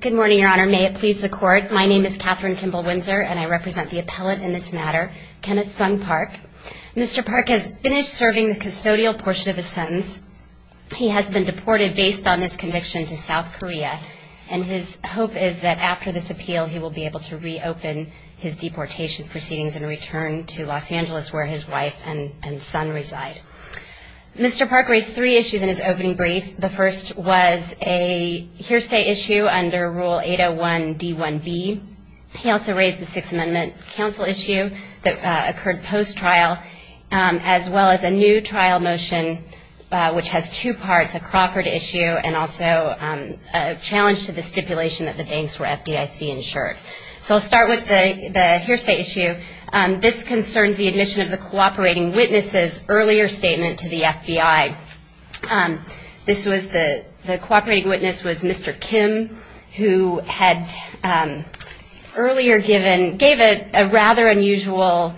Good morning, Your Honor. May it please the Court, my name is Katherine Kimball Windsor and I represent the appellate in this matter, Kenneth Sung Park. Mr. Park has finished serving the custodial portion of his sentence. He has been deported based on this conviction to South Korea and his hope is that after this appeal he will be able to reopen his deportation proceedings and return to Los Angeles where his wife and son reside. Mr. Park raised three issues in his opening brief. The first was a hearsay issue under Rule 801 D1B. He also raised a Sixth Amendment counsel issue that occurred post-trial as well as a new trial motion which has two parts, a Crawford issue and also a challenge to the stipulation that the banks were FDIC insured. So I'll start with the hearsay issue. This concerns the admission of the cooperating witnesses earlier statement to the FBI. This was the cooperating witness was Mr. Kim who had earlier given, gave a rather unusual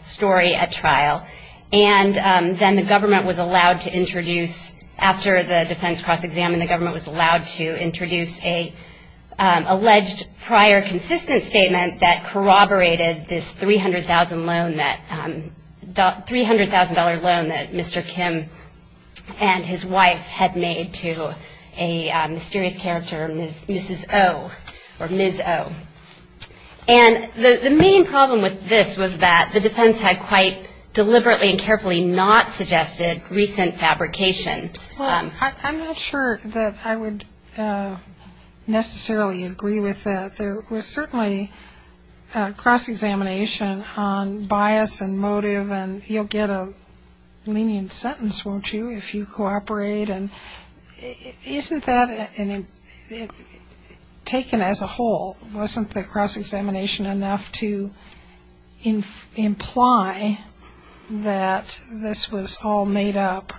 story at trial. And then the government was allowed to introduce, after the defense cross-examined, the government was allowed to introduce an alleged prior consistent statement that corroborated this $300,000 loan that Mr. Kim and his wife had made to a mysterious character, Mrs. O or Ms. O. And the main problem with this was that the defense had quite deliberately and carefully not suggested recent fabrication. I'm not sure that I would necessarily agree with that. There was certainly cross-examination on bias and motive and you'll get a lenient sentence, won't you, if you cooperate. And isn't that, taken as a whole, wasn't the cross-examination enough to imply that this was all made up?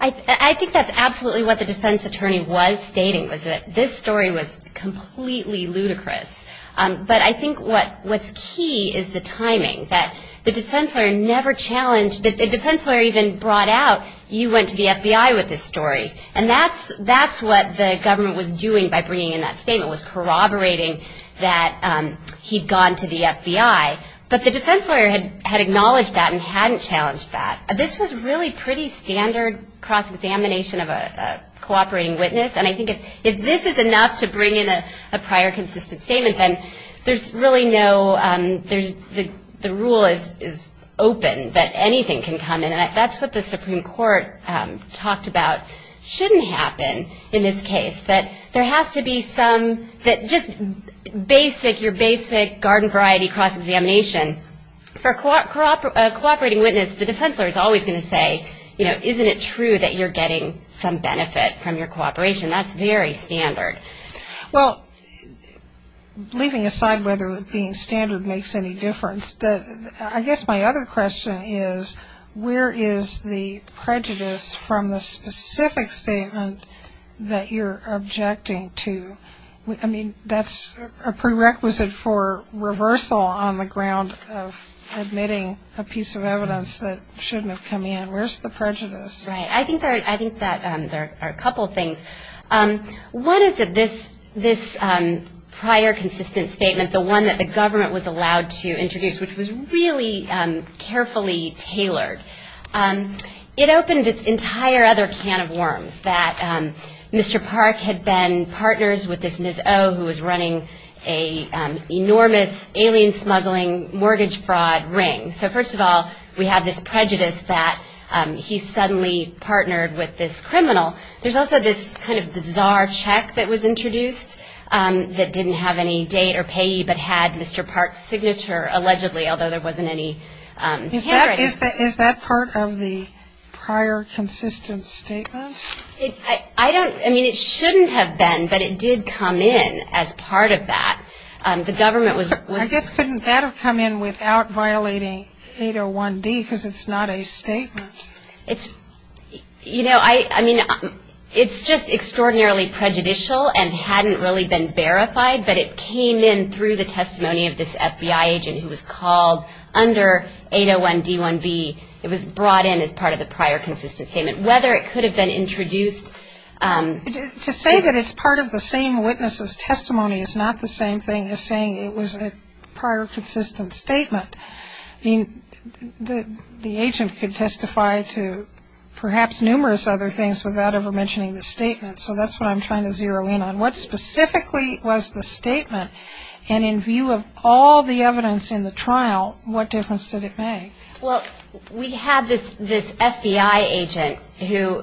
I think that's absolutely what the defense attorney was stating, was that this story was completely ludicrous. But I think what's key is the timing, that the defense lawyer never challenged, the defense lawyer even brought out, you went to the FBI with this story. And that's what the government was doing by bringing in that statement, was corroborating that he'd gone to the FBI. But the defense lawyer had acknowledged that and hadn't challenged that. This was really pretty standard cross-examination of a cooperating witness. And I think if this is enough to bring in a prior consistent statement, then there's really no, there's, the rule is open that anything can come in. And that's what the Supreme Court talked about shouldn't happen in this case. That there has to be some, that just basic, your basic garden variety cross-examination. For a cooperating witness, the defense lawyer is always going to say, you know, isn't it true that you're getting some benefit from your cooperation? That's very standard. Well, leaving aside whether being standard makes any difference, I guess my other question is, where is the prejudice from the specific statement that you're objecting to? I mean, that's a prerequisite for reversal on the ground of admitting a piece of evidence that shouldn't have come in. Where's the prejudice? Right. I think that there are a couple things. One is that this prior consistent statement, the one that the government was allowed to introduce, which was really carefully tailored, it opened this entire other can of worms that Mr. Park had been partners with this Ms. O who was running an enormous alien smuggling mortgage fraud ring. So first of all, we have this prejudice that he suddenly partnered with this criminal. There's also this kind of bizarre check that was introduced that didn't have any date or payee, but had Mr. Park's signature allegedly, although there wasn't any handwriting. Is that part of the prior consistent statement? I don't, I mean, it shouldn't have been, but it did come in as part of that. I guess couldn't that have come in without violating 801D because it's not a statement. You know, I mean, it's just extraordinarily prejudicial and hadn't really been verified, but it came in through the testimony of this FBI agent who was called under 801D1B. It was brought in as part of the prior consistent statement, whether it could have been introduced. To say that it's part of the same witness's testimony is not the same thing as saying it was a prior consistent statement. I mean, the agent could testify to perhaps numerous other things without ever mentioning the statement. So that's what I'm trying to zero in on. What specifically was the statement, and in view of all the evidence in the trial, what difference did it make? Well, we had this FBI agent who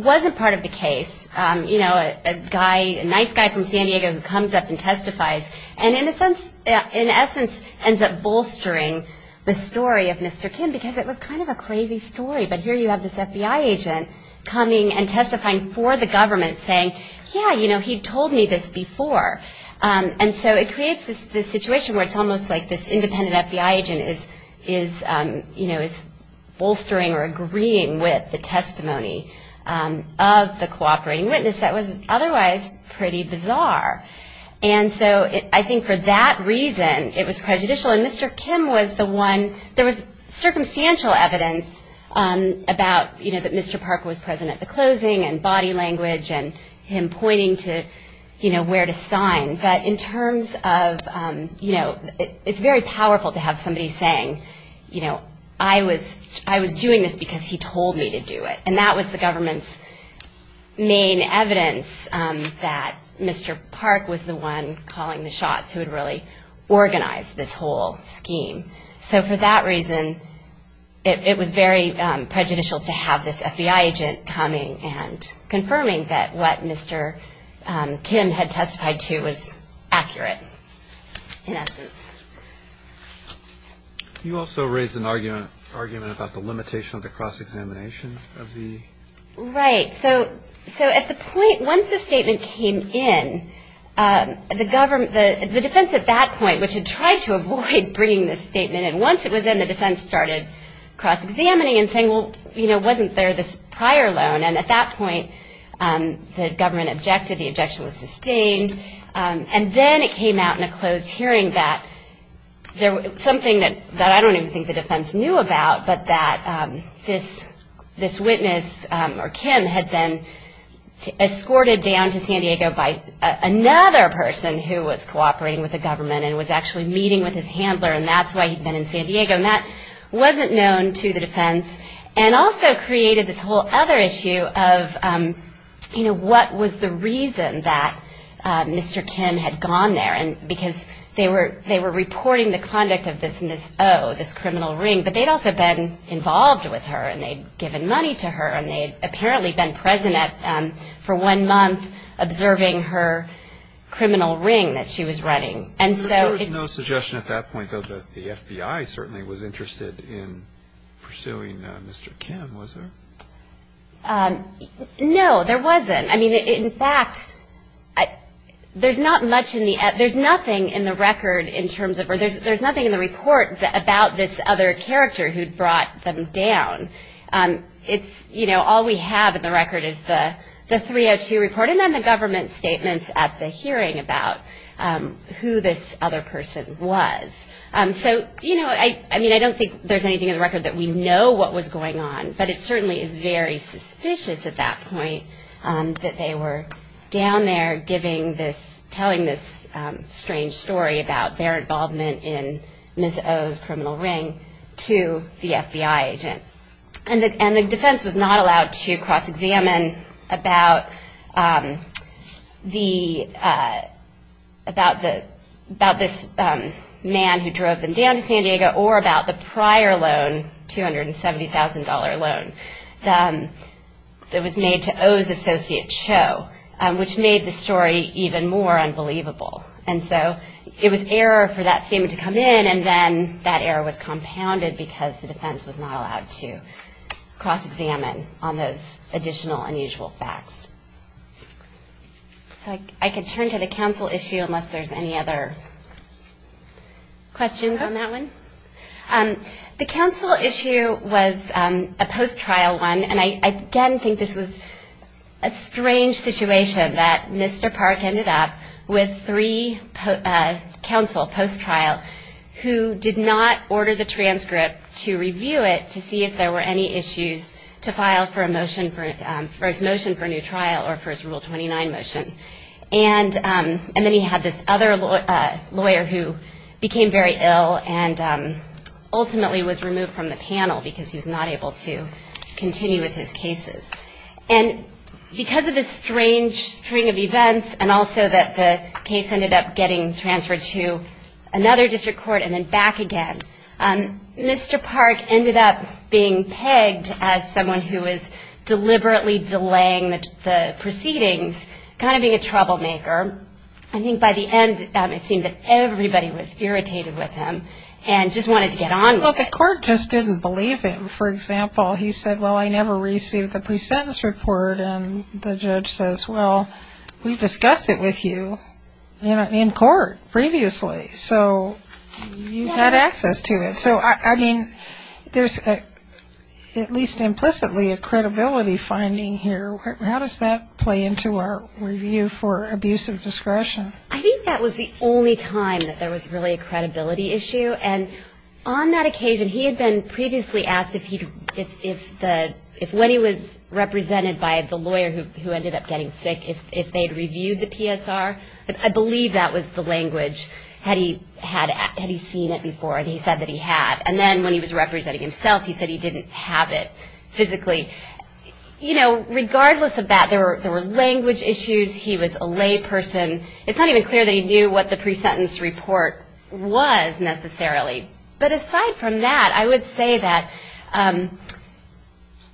wasn't part of the case. You know, a guy, a nice guy from San Diego who comes up and testifies, and in a sense, in essence, ends up bolstering the story of Mr. Kim, because it was kind of a crazy story. But here you have this FBI agent coming and testifying for the government saying, yeah, you know, he told me this before. And so it creates this situation where it's almost like this independent FBI agent is, you know, is bolstering or agreeing with the testimony of the cooperating witness that was otherwise pretty bizarre. And so I think for that reason, it was prejudicial. And Mr. Kim was the one, there was circumstantial evidence about, you know, that Mr. Parker was present at the closing and body language and him pointing to, you know, where to sign. But in terms of, you know, it's very powerful to have somebody saying, you know, I was doing this because he told me to do it. And that was the government's main evidence that Mr. Park was the one calling the shots who had really organized this whole scheme. So for that reason, it was very prejudicial to have this FBI agent coming and confirming that what Mr. Kim had testified to was accurate in essence. You also raised an argument about the limitation of the cross-examination of the... Right. So at the point, once the statement came in, the government, the defense at that point, which had tried to avoid bringing this statement in, once it was in, the defense started cross-examining and saying, well, you know, wasn't there this prior loan? And at that point, the government objected. The objection was sustained. And then it came out in a closed hearing that there was something that I don't even think the defense knew about, but that this witness or Kim had been escorted down to San Diego by another person who was cooperating with the government and was actually meeting with his handler, and that's why he'd been in San Diego. And that wasn't known to the defense, and also created this whole other issue of, you know, what was the reason that Mr. Kim had gone there, because they were reporting the conduct of this Ms. O, this criminal ring, but they'd also been involved with her, and they'd given money to her, and they'd apparently been present for one month observing her criminal ring that she was running. And so it's... And there was no suggestion at that point, though, that the FBI certainly was interested in pursuing Mr. Kim, was there? No, there wasn't. I mean, in fact, there's not much in the, there's nothing in the record in terms of, or there's nothing in the report about this other character who'd brought them down. It's, you know, all we have in the record is the 302 report and then the government statements at the hearing about who this other person was. So, you know, I mean, I don't think there's anything in the record that we know what was going on, but it certainly is very suspicious at that point that they were down there giving this, telling this strange story about their involvement in Ms. O's criminal ring to the FBI agent. And the defense was not allowed to cross-examine about the, about this man who drove them down to San Diego, or about the prior loan, $270,000 loan that was made to O's associate Cho, which made the story even more unbelievable. And so it was error for that statement to come in, and then that error was compounded because the defense was not allowed to cross-examine on those additional unusual facts. So I could turn to the counsel issue unless there's any other questions on that one. The counsel issue was a post-trial one, and I, again, think this was a strange situation that Mr. Park ended up with three counsel post-trial who did not order the transcript to review it to see if there were any issues with it. And he did not have any issues to file for a motion, for his motion for a new trial or for his Rule 29 motion. And then he had this other lawyer who became very ill and ultimately was removed from the panel because he was not able to continue with his cases. And because of this strange string of events, and also that the case ended up getting transferred to another district court and then back again, Mr. Park ended up being pegged as someone who was deliberately delaying the proceedings, kind of being a troublemaker. I think by the end it seemed that everybody was irritated with him and just wanted to get on with it. Well, the court just didn't believe him. For example, he said, well, I never received the presentence report, and the judge says, well, we discussed it with you in court previously, so you had access to it. So, I mean, there's at least implicitly a credibility finding here. How does that play into our review for abuse of discretion? I think that was the only time that there was really a credibility issue. And on that occasion, he had been previously asked if when he was represented by the lawyer who ended up getting sick, if they had the language, had he seen it before, and he said that he had. And then when he was representing himself, he said he didn't have it physically. Regardless of that, there were language issues, he was a layperson. It's not even clear that he knew what the presentence report was, necessarily. But aside from that, I would say that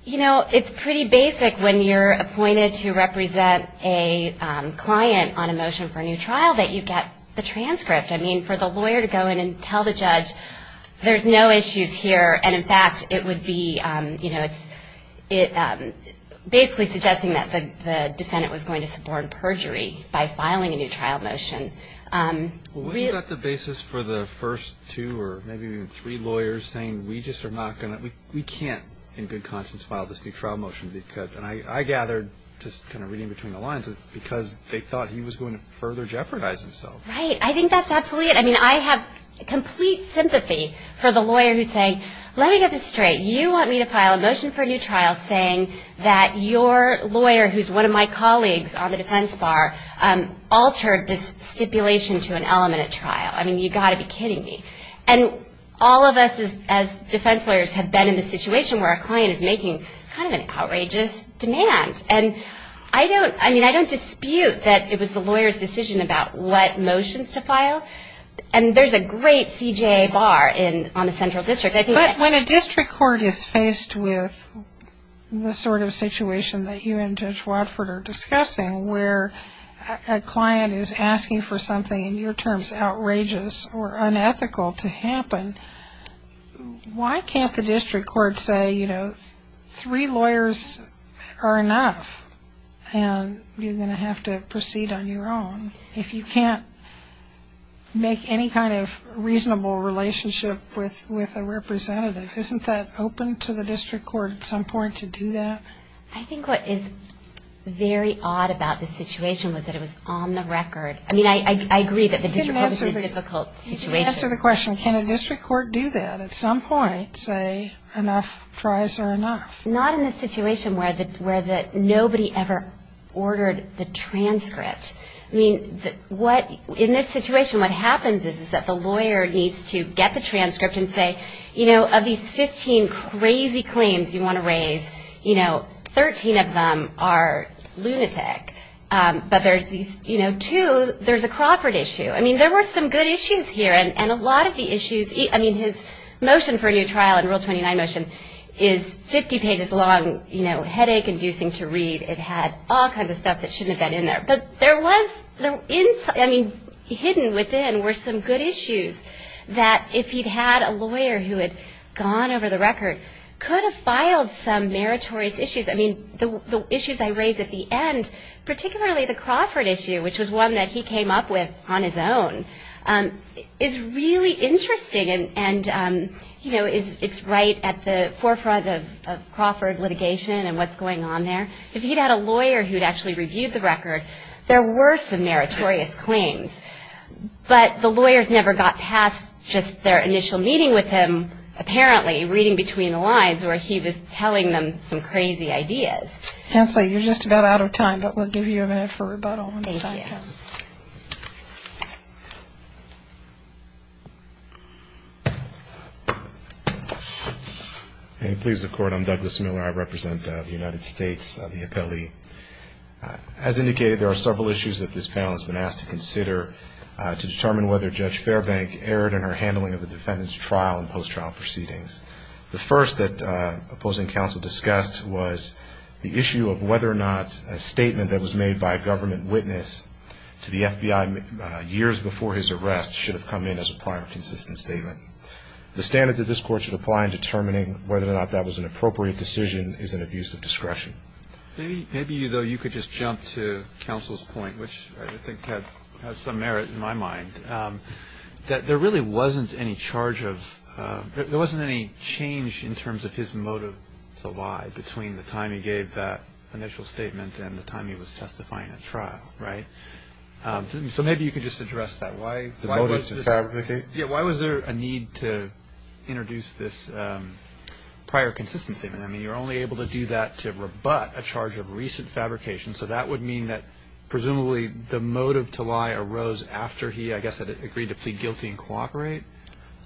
it's pretty basic when you're appointed to represent a client on a motion for a new trial that you have the transcript. I mean, for the lawyer to go in and tell the judge, there's no issues here, and, in fact, it would be, you know, it's basically suggesting that the defendant was going to support perjury by filing a new trial motion. Wasn't that the basis for the first two or maybe even three lawyers saying, we just are not going to, we can't in good conscience file this new trial motion because, and I gathered, just kind of reading between the lines, because they thought he was going to further jeopardize himself. Right. I think that's absolutely it. I mean, I have complete sympathy for the lawyer who's saying, let me get this straight. You want me to file a motion for a new trial saying that your lawyer, who's one of my colleagues on the defense bar, altered this stipulation to an element at trial. I mean, you've got to be kidding me. And all of us as defense lawyers have been in the situation where a client is making kind of an outrageous demand. And I don't, I mean, I don't dispute that it was the lawyer's decision about what motions to file. And there's a great CJA bar on the central district. But when a district court is faced with the sort of situation that you and Judge Watford are discussing where a client is asking for something, in your terms, outrageous or unethical to happen, why can't the district court say, you know, three lawyers are enough, and you're going to have to proceed on your own if you can't make any kind of reasonable relationship with a representative? Isn't that open to the district court at some point to do that? I think what is very odd about this situation was that it was on the record. I mean, I agree that the district court was a difficult situation. Can you answer the question, can a district court do that at some point, say enough tries are enough? Not in the situation where nobody ever ordered the transcript. I mean, what, in this situation, what happens is that the lawyer needs to get the transcript and say, you know, of these 15 crazy claims you want to raise, you know, 13 of them are lunatic. But there's these, you know, two, there's a Crawford issue. I mean, there were some good issues here, and a lot of the issues, I mean, his motion for a new trial in Rule 29 motion is 50 pages long, you know, headache-inducing to read, it had all kinds of stuff that shouldn't have been in there. But there was, I mean, hidden within were some good issues that if he'd had a lawyer who had gone over the record, could have filed some meritorious issues. I mean, the issues I raised at the end, particularly the Crawford issue, which was one that he came up with on his own, is really interesting, and, you know, it's right at the forefront of Crawford litigation and what's going on there. If he'd had a lawyer who'd actually reviewed the record, there were some meritorious claims. But the lawyers never got past just their initial meeting with him, apparently, reading between the lines, where he was telling them some crazy ideas. MS. MILLER. Counsel, you're just about out of time, but we'll give you a minute for rebuttal when the time comes. MR. MILLER. May it please the Court, I'm Douglas Miller, I represent the United States, the appellee. As indicated, there are several issues that this panel has been asked to consider to determine whether Judge Fairbank erred in her handling of the defendant's trial and post-trial proceedings. The first that opposing counsel discussed was the issue of whether or not a statement that was made by a government witness to the FBI years before his arrest should have come in as a prior consistent statement. The standard that this Court should apply in determining whether or not that was an appropriate decision is an abuse of discretion. And maybe, though, you could just jump to counsel's point, which I think has some merit in my mind, that there really wasn't any charge of – there wasn't any change in terms of his motive to lie between the time he gave that initial statement and the time he was testifying at trial, right? So maybe you could just address that. Why was there a need to introduce this prior consistent statement? I mean, you're only able to do that to rebut a charge of recent fabrication, so that would mean that presumably the motive to lie arose after he, I guess, had agreed to plead guilty and cooperate?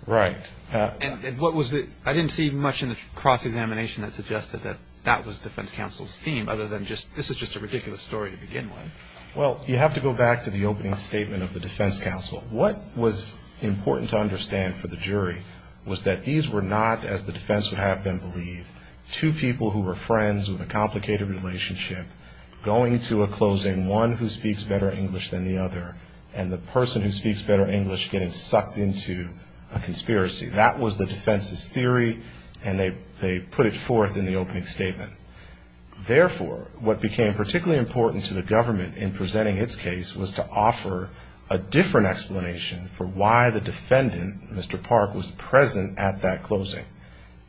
And what was the – I didn't see much in the cross-examination that suggested that that was defense counsel's theme, other than this is just a ridiculous story to begin with. Well, you have to go back to the opening statement of the defense counsel. What was important to understand for the jury was that these were not, as the defense would have them believe, two people who were friends with a complicated relationship going to a closing, one who speaks better English than the other, and the person who speaks better English getting sucked into a conspiracy. That was the defense's theory, and they put it forth in the opening statement. Therefore, what became particularly important to the government in presenting its case was to offer a different explanation for why the defendant, Mr. Park, was present at that closing.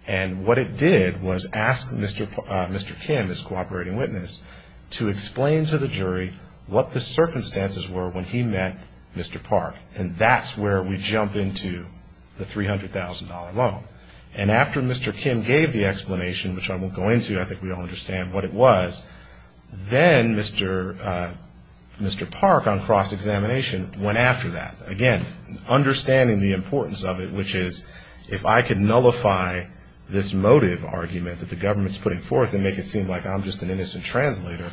And what it did was ask Mr. Kim, his cooperating witness, to explain to the jury what the circumstances were when he met Mr. Park. And that's where we jump into the $300,000 loan. And after Mr. Kim gave the explanation, which I won't go into, I think we all understand what it was, then Mr. Park, on cross-examination, went after that, again, understanding the importance of it, which is if I could nullify this motive argument that the government's putting forth and make it seem like I'm just an innocent translator,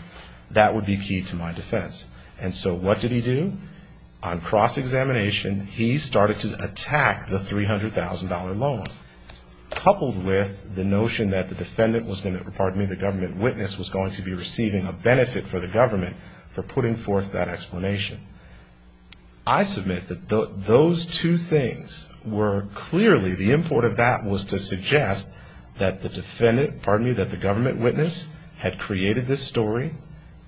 that would be key to my defense. And so what did he do? On cross-examination, he started to attack the $300,000 loan, coupled with the notion that the defendant was going to, pardon me, the government witness was going to be receiving a benefit for the government for putting forth that explanation. I submit that those two things were clearly, the import of that was to suggest that the defendant, pardon me, that the government witness had created this story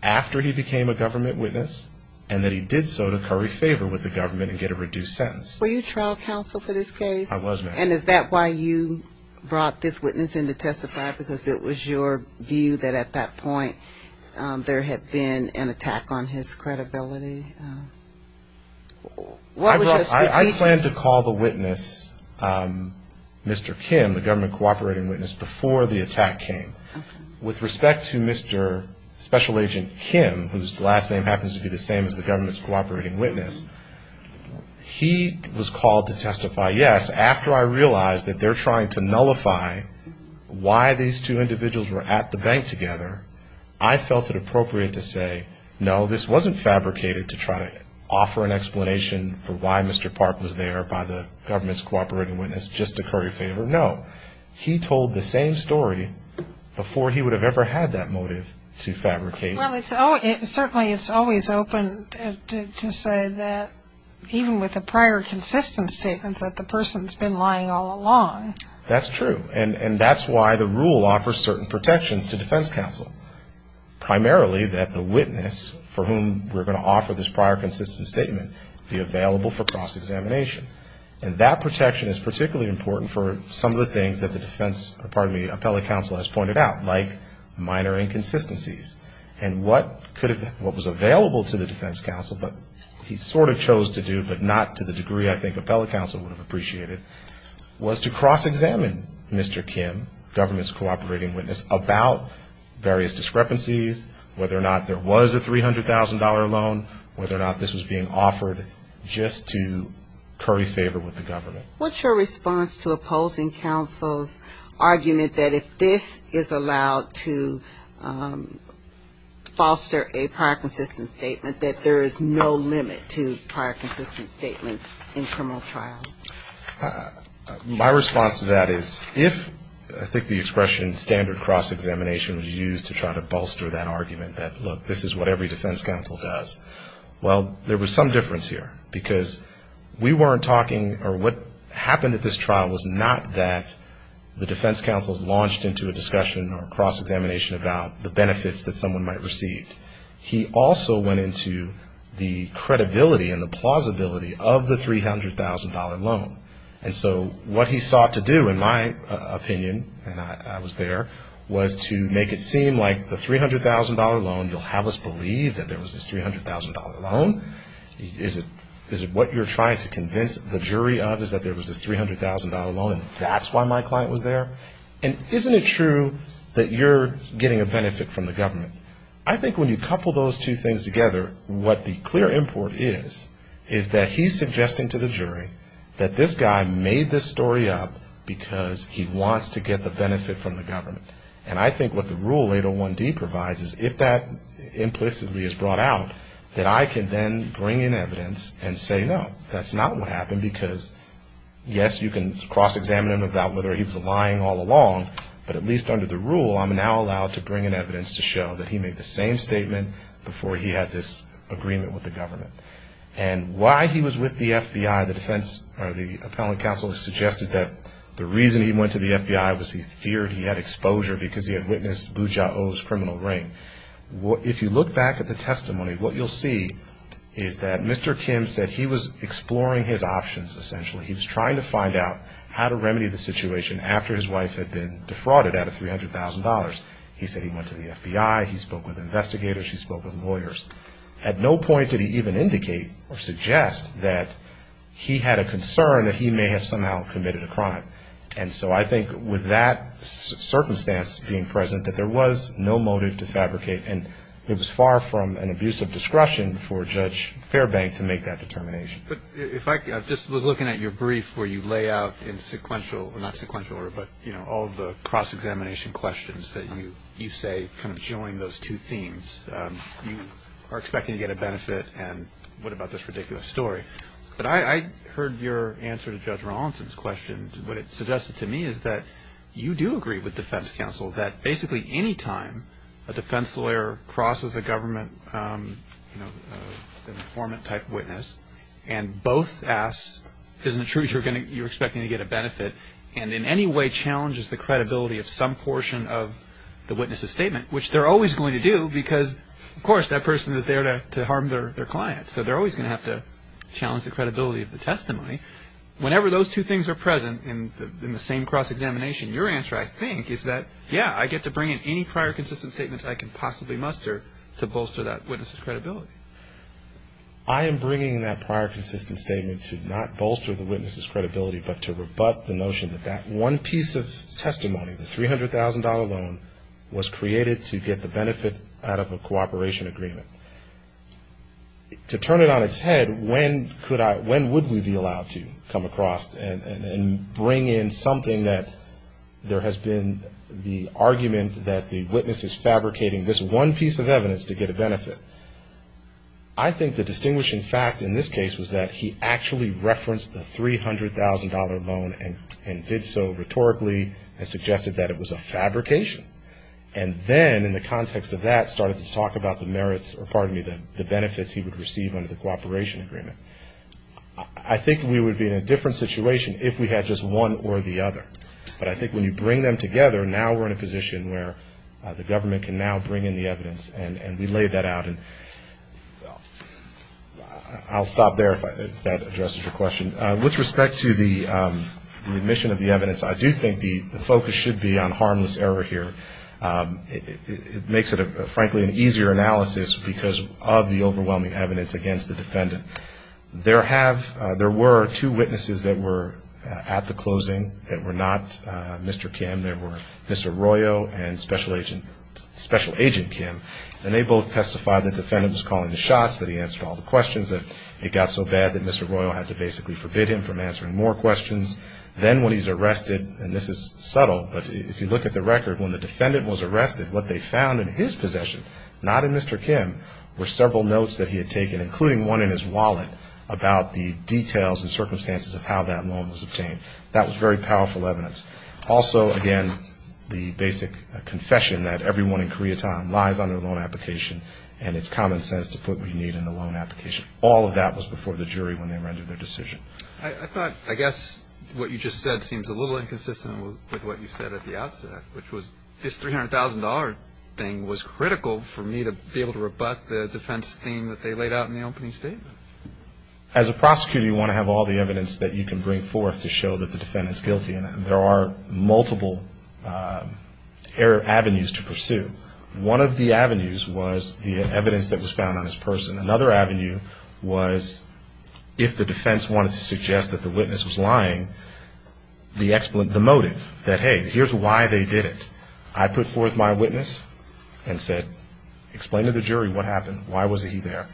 after he became a government witness, and that he did so to curry favor with the government and get a reduced sentence. Were you trial counsel for this case? I was, ma'am. And is that why you brought this witness in to testify, because it was your view that at that point there had been an attack on his credibility? With respect to Mr. Special Agent Kim, whose last name happens to be the same as the government's cooperating witness, he was called to testify, yes, after I realized that they're trying to nullify why these two individuals were at the bank together, I felt it appropriate to say, no, this wasn't fabricated to try to offer an explanation for why Mr. Park was there by the government's cooperating witness just to And I don't think he would have ever had that motive to fabricate. Well, certainly it's always open to say that even with a prior consistent statement that the person's been lying all along. That's true. And that's why the rule offers certain protections to defense counsel, primarily that the witness for whom we're going to offer this prior consistent statement be available for cross-examination. And that protection is particularly important for some of the things that the defense, pardon me, appellate counsel has pointed out, like minor inconsistencies, and what was available to the defense counsel, but he sort of chose to do, but not to the degree I think appellate counsel would have appreciated, was to cross-examine Mr. Kim, government's cooperating witness, about various discrepancies, whether or not there was a $300,000 loan, whether or not this was being offered just to curry favor with the government. What's your response to opposing counsel's argument that if this is allowed to foster a prior consistent statement, that there is no limit to prior consistent statements in criminal trials? My response to that is if, I think the expression standard cross-examination was used to try to bolster that argument, that, look, this is what every defense counsel does, well, there was some difference here, because we weren't talking, or what happened at this trial was not that the defense counsel launched into a discussion or cross-examination about the benefits that someone might receive. He also went into the credibility and the plausibility of the $300,000 loan. And so what he sought to do, in my opinion, and I was there, was to make it seem like the $300,000 loan, you'll have a split between the two, is it that you believe that there was this $300,000 loan, is it what you're trying to convince the jury of is that there was this $300,000 loan and that's why my client was there, and isn't it true that you're getting a benefit from the government? I think when you couple those two things together, what the clear import is, is that he's suggesting to the jury that this guy made this story up because he wants to get the benefit from the government. And I think what the rule 801D provides is if that implicitly is brought out, that I can then bring in evidence and say no, that's not what happened, because yes, you can cross-examine him about whether he was lying all along, but at least under the rule, I'm now allowed to bring in evidence to show that he made the same statement before he had this agreement with the government. And why he was with the FBI, the defense, or the appellate counsel suggested that the reason he went to the FBI was he feared he had exposure because he had witnessed Boo Ja Oh's criminal reign. If you look back at the testimony, what you'll see is that Mr. Kim said he was exploring his options, essentially. He was trying to find out how to remedy the situation after his wife had been defrauded out of $300,000. He said he went to the FBI, he spoke with investigators, he spoke with lawyers. At no point did he even indicate or suggest that he had a concern that he may have somehow committed a crime. And so I think with that circumstance being present, that there was no motive to fabricate, and it was far from an abusive discretion for Judge Fairbank to make that determination. But if I could, I just was looking at your brief where you lay out in sequential, not sequential order, but all of the cross-examination questions that you say kind of join those two themes. You are expecting to get a benefit, and what about this ridiculous story? But I heard your answer to Judge Rawlinson's question. What it suggested to me is that you do agree with defense counsel that basically any time a defense lawyer crosses a government informant-type witness and both ask, isn't it true you're expecting to get a benefit, and in any way challenges the credibility of some portion of the witness's statement, which they're always going to do because, of course, that person is there to harm their client, so they're always going to have to challenge the credibility of the testimony. Whenever those two things are present in the same cross-examination, your answer, I think, is that, yeah, I get to bring in any prior consistent statements I can possibly muster to bolster that witness's credibility. I am bringing that prior consistent statement to not bolster the witness's credibility, but to rebut the notion that that one piece of testimony, the $300,000 loan, was created to get the benefit out of a cooperation agreement. To turn it on its head, when would we be allowed to come across and bring in something that there has been the argument that the witness is fabricating this one piece of evidence to get a benefit, I think the distinguishing fact in this case was that he actually referenced the $300,000 loan and did so rhetorically and suggested that it was a fabrication. And then, in the context of that, started to talk about the merits, or pardon me, the benefits he would receive under the cooperation agreement. I think we would be in a different situation if we had just one or the other. But I think when you bring them together, now we're in a position where the government can now bring in the evidence, and we laid that out, and I'll stop there if that addresses your question. With respect to the admission of the evidence, I do think the focus should be on harmless error here. It makes it, frankly, an easier analysis because of the overwhelming evidence against the defendant. There were two witnesses that were at the closing that were not Mr. Kim. There were Mr. Royo and Special Agent Kim, and they both testified that the defendant was calling the shots, that he answered all the questions, that it got so bad that Mr. Royo had to basically forbid him from answering more questions. Then when he's arrested, and this is subtle, but if you look at the record, when the defendant was arrested, what they found in his possession, not in Mr. Kim, were several notes that he had taken, including one in his wallet, about the details and circumstances of how that loan was obtained. That was very powerful evidence. Also, again, the basic confession that everyone in Koreatown lies on their loan application, and it's common sense to put what you need in the loan application. All of that was before the jury when they rendered their decision. I thought, I guess, what you just said seems a little inconsistent with what you said at the outset, which was this $300,000 thing was critical for me to be able to rebut the defense theme that they laid out in the opening statement. As a prosecutor, you want to have all the evidence that you can bring forth to show that the defendant's guilty, and there are multiple avenues to pursue. One of the avenues was the evidence that was found on his person. Another avenue was if the defense wanted to suggest that the witness was lying, the motive, that, hey, here's why they did it. I put forth my witness and said, explain to the jury what happened. Why was he there?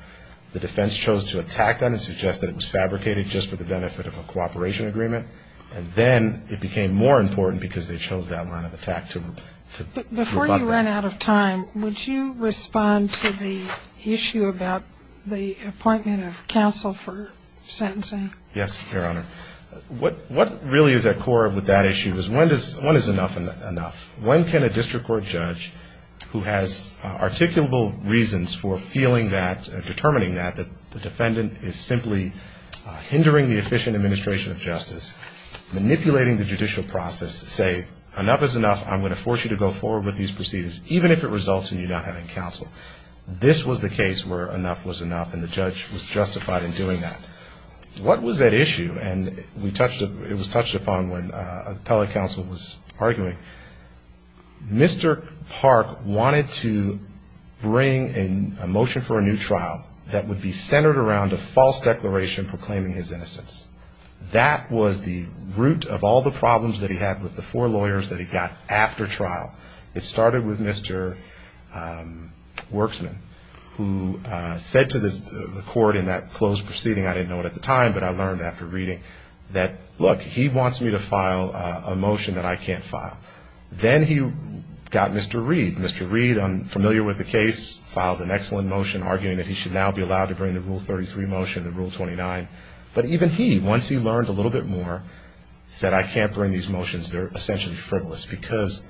The defense chose to attack them and suggest that it was fabricated just for the benefit of a cooperation agreement, and then it became more important because they chose that line of attack to rebut that. Before you run out of time, would you respond to the issue about the appointment of counsel for sentencing? Yes, Your Honor. What really is at core with that issue is when is enough enough? When can a district court judge who has articulable reasons for feeling that, determining that, that the defendant is simply hindering the efficient administration of justice, manipulating the judicial process, say, enough is enough, I'm going to force you to go forward with these proceedings, even if it results in you not having counsel. This was the case where enough was enough, and the judge was justified in doing that. What was at issue, and it was touched upon when appellate counsel was arguing, Mr. Park wanted to bring a motion for a new trial that would be centered around a false declaration proclaiming his innocence. That was the root of all the problems that he had with the four lawyers that he got after trial. It started with Mr. Worksman, who said to the court in that closed proceeding, I didn't know it at the time, but I learned after reading, that, look, he wants me to file a motion that I can't file. Then he got Mr. Reid. Mr. Reid, I'm familiar with the case, filed an excellent motion arguing that he should now be allowed to bring the Rule 33 motion and Rule 29, but even he, once he learned a little bit more, said I can't bring these motions, they're essentially frivolous, because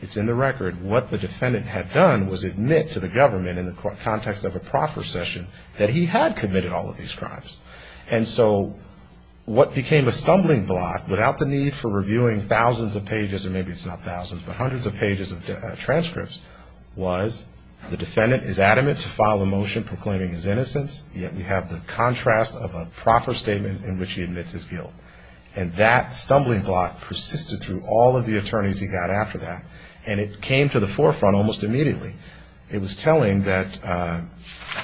it's in the record what the defendant had done was admit to the government in the context of a proffer session that he had committed all of these crimes. And so what became a stumbling block, without the need for reviewing thousands of pages, or maybe it's not thousands, but hundreds of pages of transcripts, was the defendant is adamant to file a motion proclaiming his innocence, yet we have the contrast of a stumbling block persisted through all of the attorneys he got after that, and it came to the forefront almost immediately. It was telling that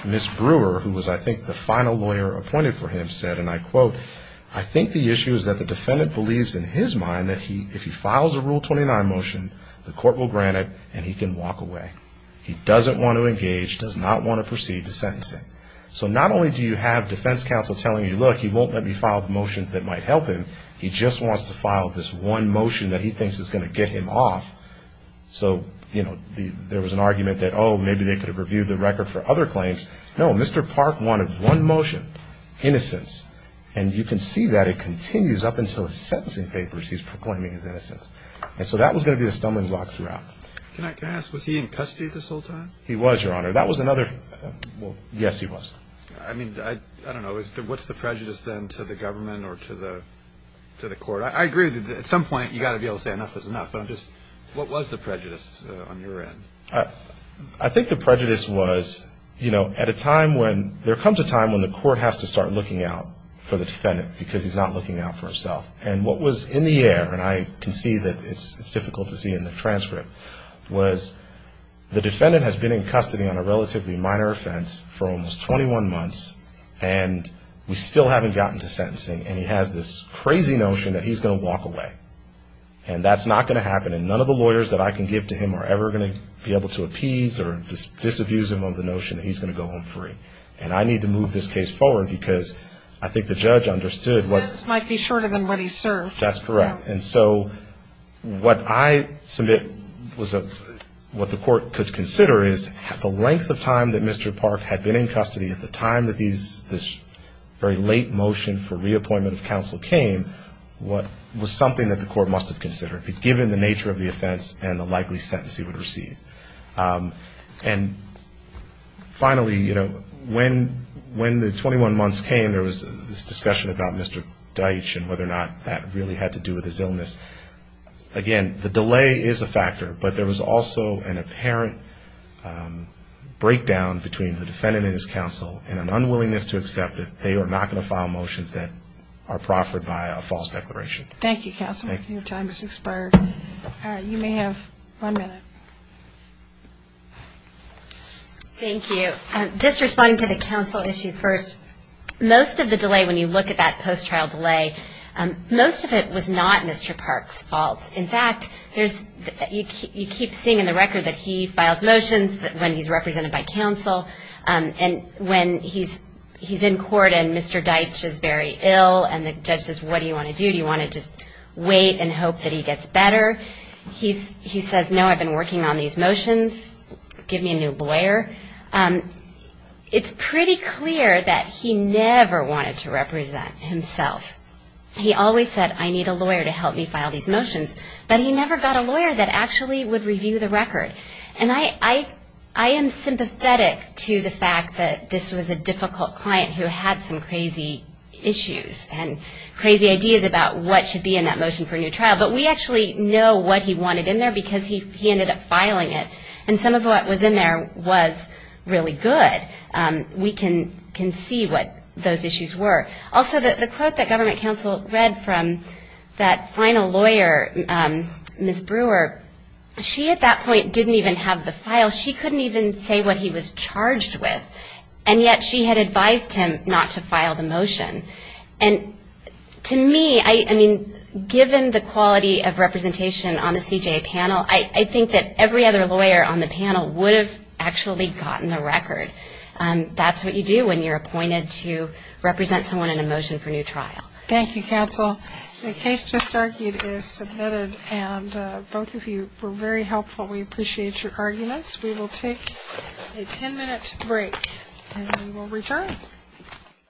Ms. Brewer, who was I think the final lawyer appointed for him, said, and I quote, I think the issue is that the defendant believes in his mind that if he files a Rule 29 motion, the court will grant it and he can walk away. He doesn't want to engage, does not want to proceed to sentencing. So not only do you have defense counsel telling you, look, he won't let me file motions that might help him, he just wants to file this one motion that he thinks is going to get him off. So, you know, there was an argument that, oh, maybe they could have reviewed the record for other claims. No, Mr. Park wanted one motion, innocence, and you can see that it continues up until his sentencing papers he's proclaiming his innocence. And so that was going to be the stumbling block throughout. Can I ask, was he in custody this whole time? He was, Your Honor. That was another, well, yes, he was. I mean, I don't know, what's the prejudice then to the government or to the court? I agree that at some point you've got to be able to say enough is enough, but I'm just, what was the prejudice on your end? I think the prejudice was, you know, at a time when, there comes a time when the court has to start looking out for the defendant because he's not looking out for himself. And what was in the air, and I can see that it's difficult to see in the transcript, was the defendant has been in custody on a relatively minor offense for almost 21 months, and we still haven't gotten to sentencing, and he has this crazy notion that he's going to walk away. And that's not going to happen, and none of the lawyers that I can give to him are ever going to be able to appease or disabuse him of the notion that he's going to go home free. And I need to move this case forward because I think the judge understood what... The sentence might be shorter than what he served. That's correct. And so what I submit, what the court could consider is, at the length of time that Mr. Park had been in custody, at the time that this very late motion for reappointment of counsel came, what was something that the court must have considered, given the nature of the offense and the likely sentence he would receive. And finally, you know, when the 21 months came, there was this discussion about Mr. Deitch and whether or not that really had to do with his illness. Again, the delay is a factor, but there was also an apparent breakdown between the defendant and his counsel and an unwillingness to accept that they are not going to file motions that are proffered by a false declaration. Thank you, counsel. Your time has expired. You may have one minute. Thank you. Just responding to the counsel issue first, most of the delay, when you look at that post-trial delay, most of it was not Mr. Park's fault. In fact, you keep seeing in the record that he files motions when he's represented by counsel, and when he's in court and Mr. Deitch is very ill and the judge says, what do you want to do, do you want to just wait and hope that he gets better? He says, no, I've been working on these motions, give me a new lawyer. It's pretty clear that he never wanted to represent himself. He always said, I need a lawyer to help me file these motions, but he never got a lawyer that actually would review the record. And I am sympathetic to the fact that this was a difficult client who had some crazy issues and crazy ideas about what should be in that motion, but he didn't know what he wanted in there because he ended up filing it. And some of what was in there was really good. We can see what those issues were. Also, the quote that government counsel read from that final lawyer, Ms. Brewer, she at that point didn't even have the file. She couldn't even say what he was charged with, and yet she had advised him not to file the motion. And to me, I mean, given the quality of representation on the CJA panel, I think that every other lawyer on the panel would have actually gotten the record. That's what you do when you're appointed to represent someone in a motion for new trial. Thank you, counsel. The case just argued is submitted, and both of you were very helpful. We appreciate your arguments. We will take a ten-minute break, and we will return.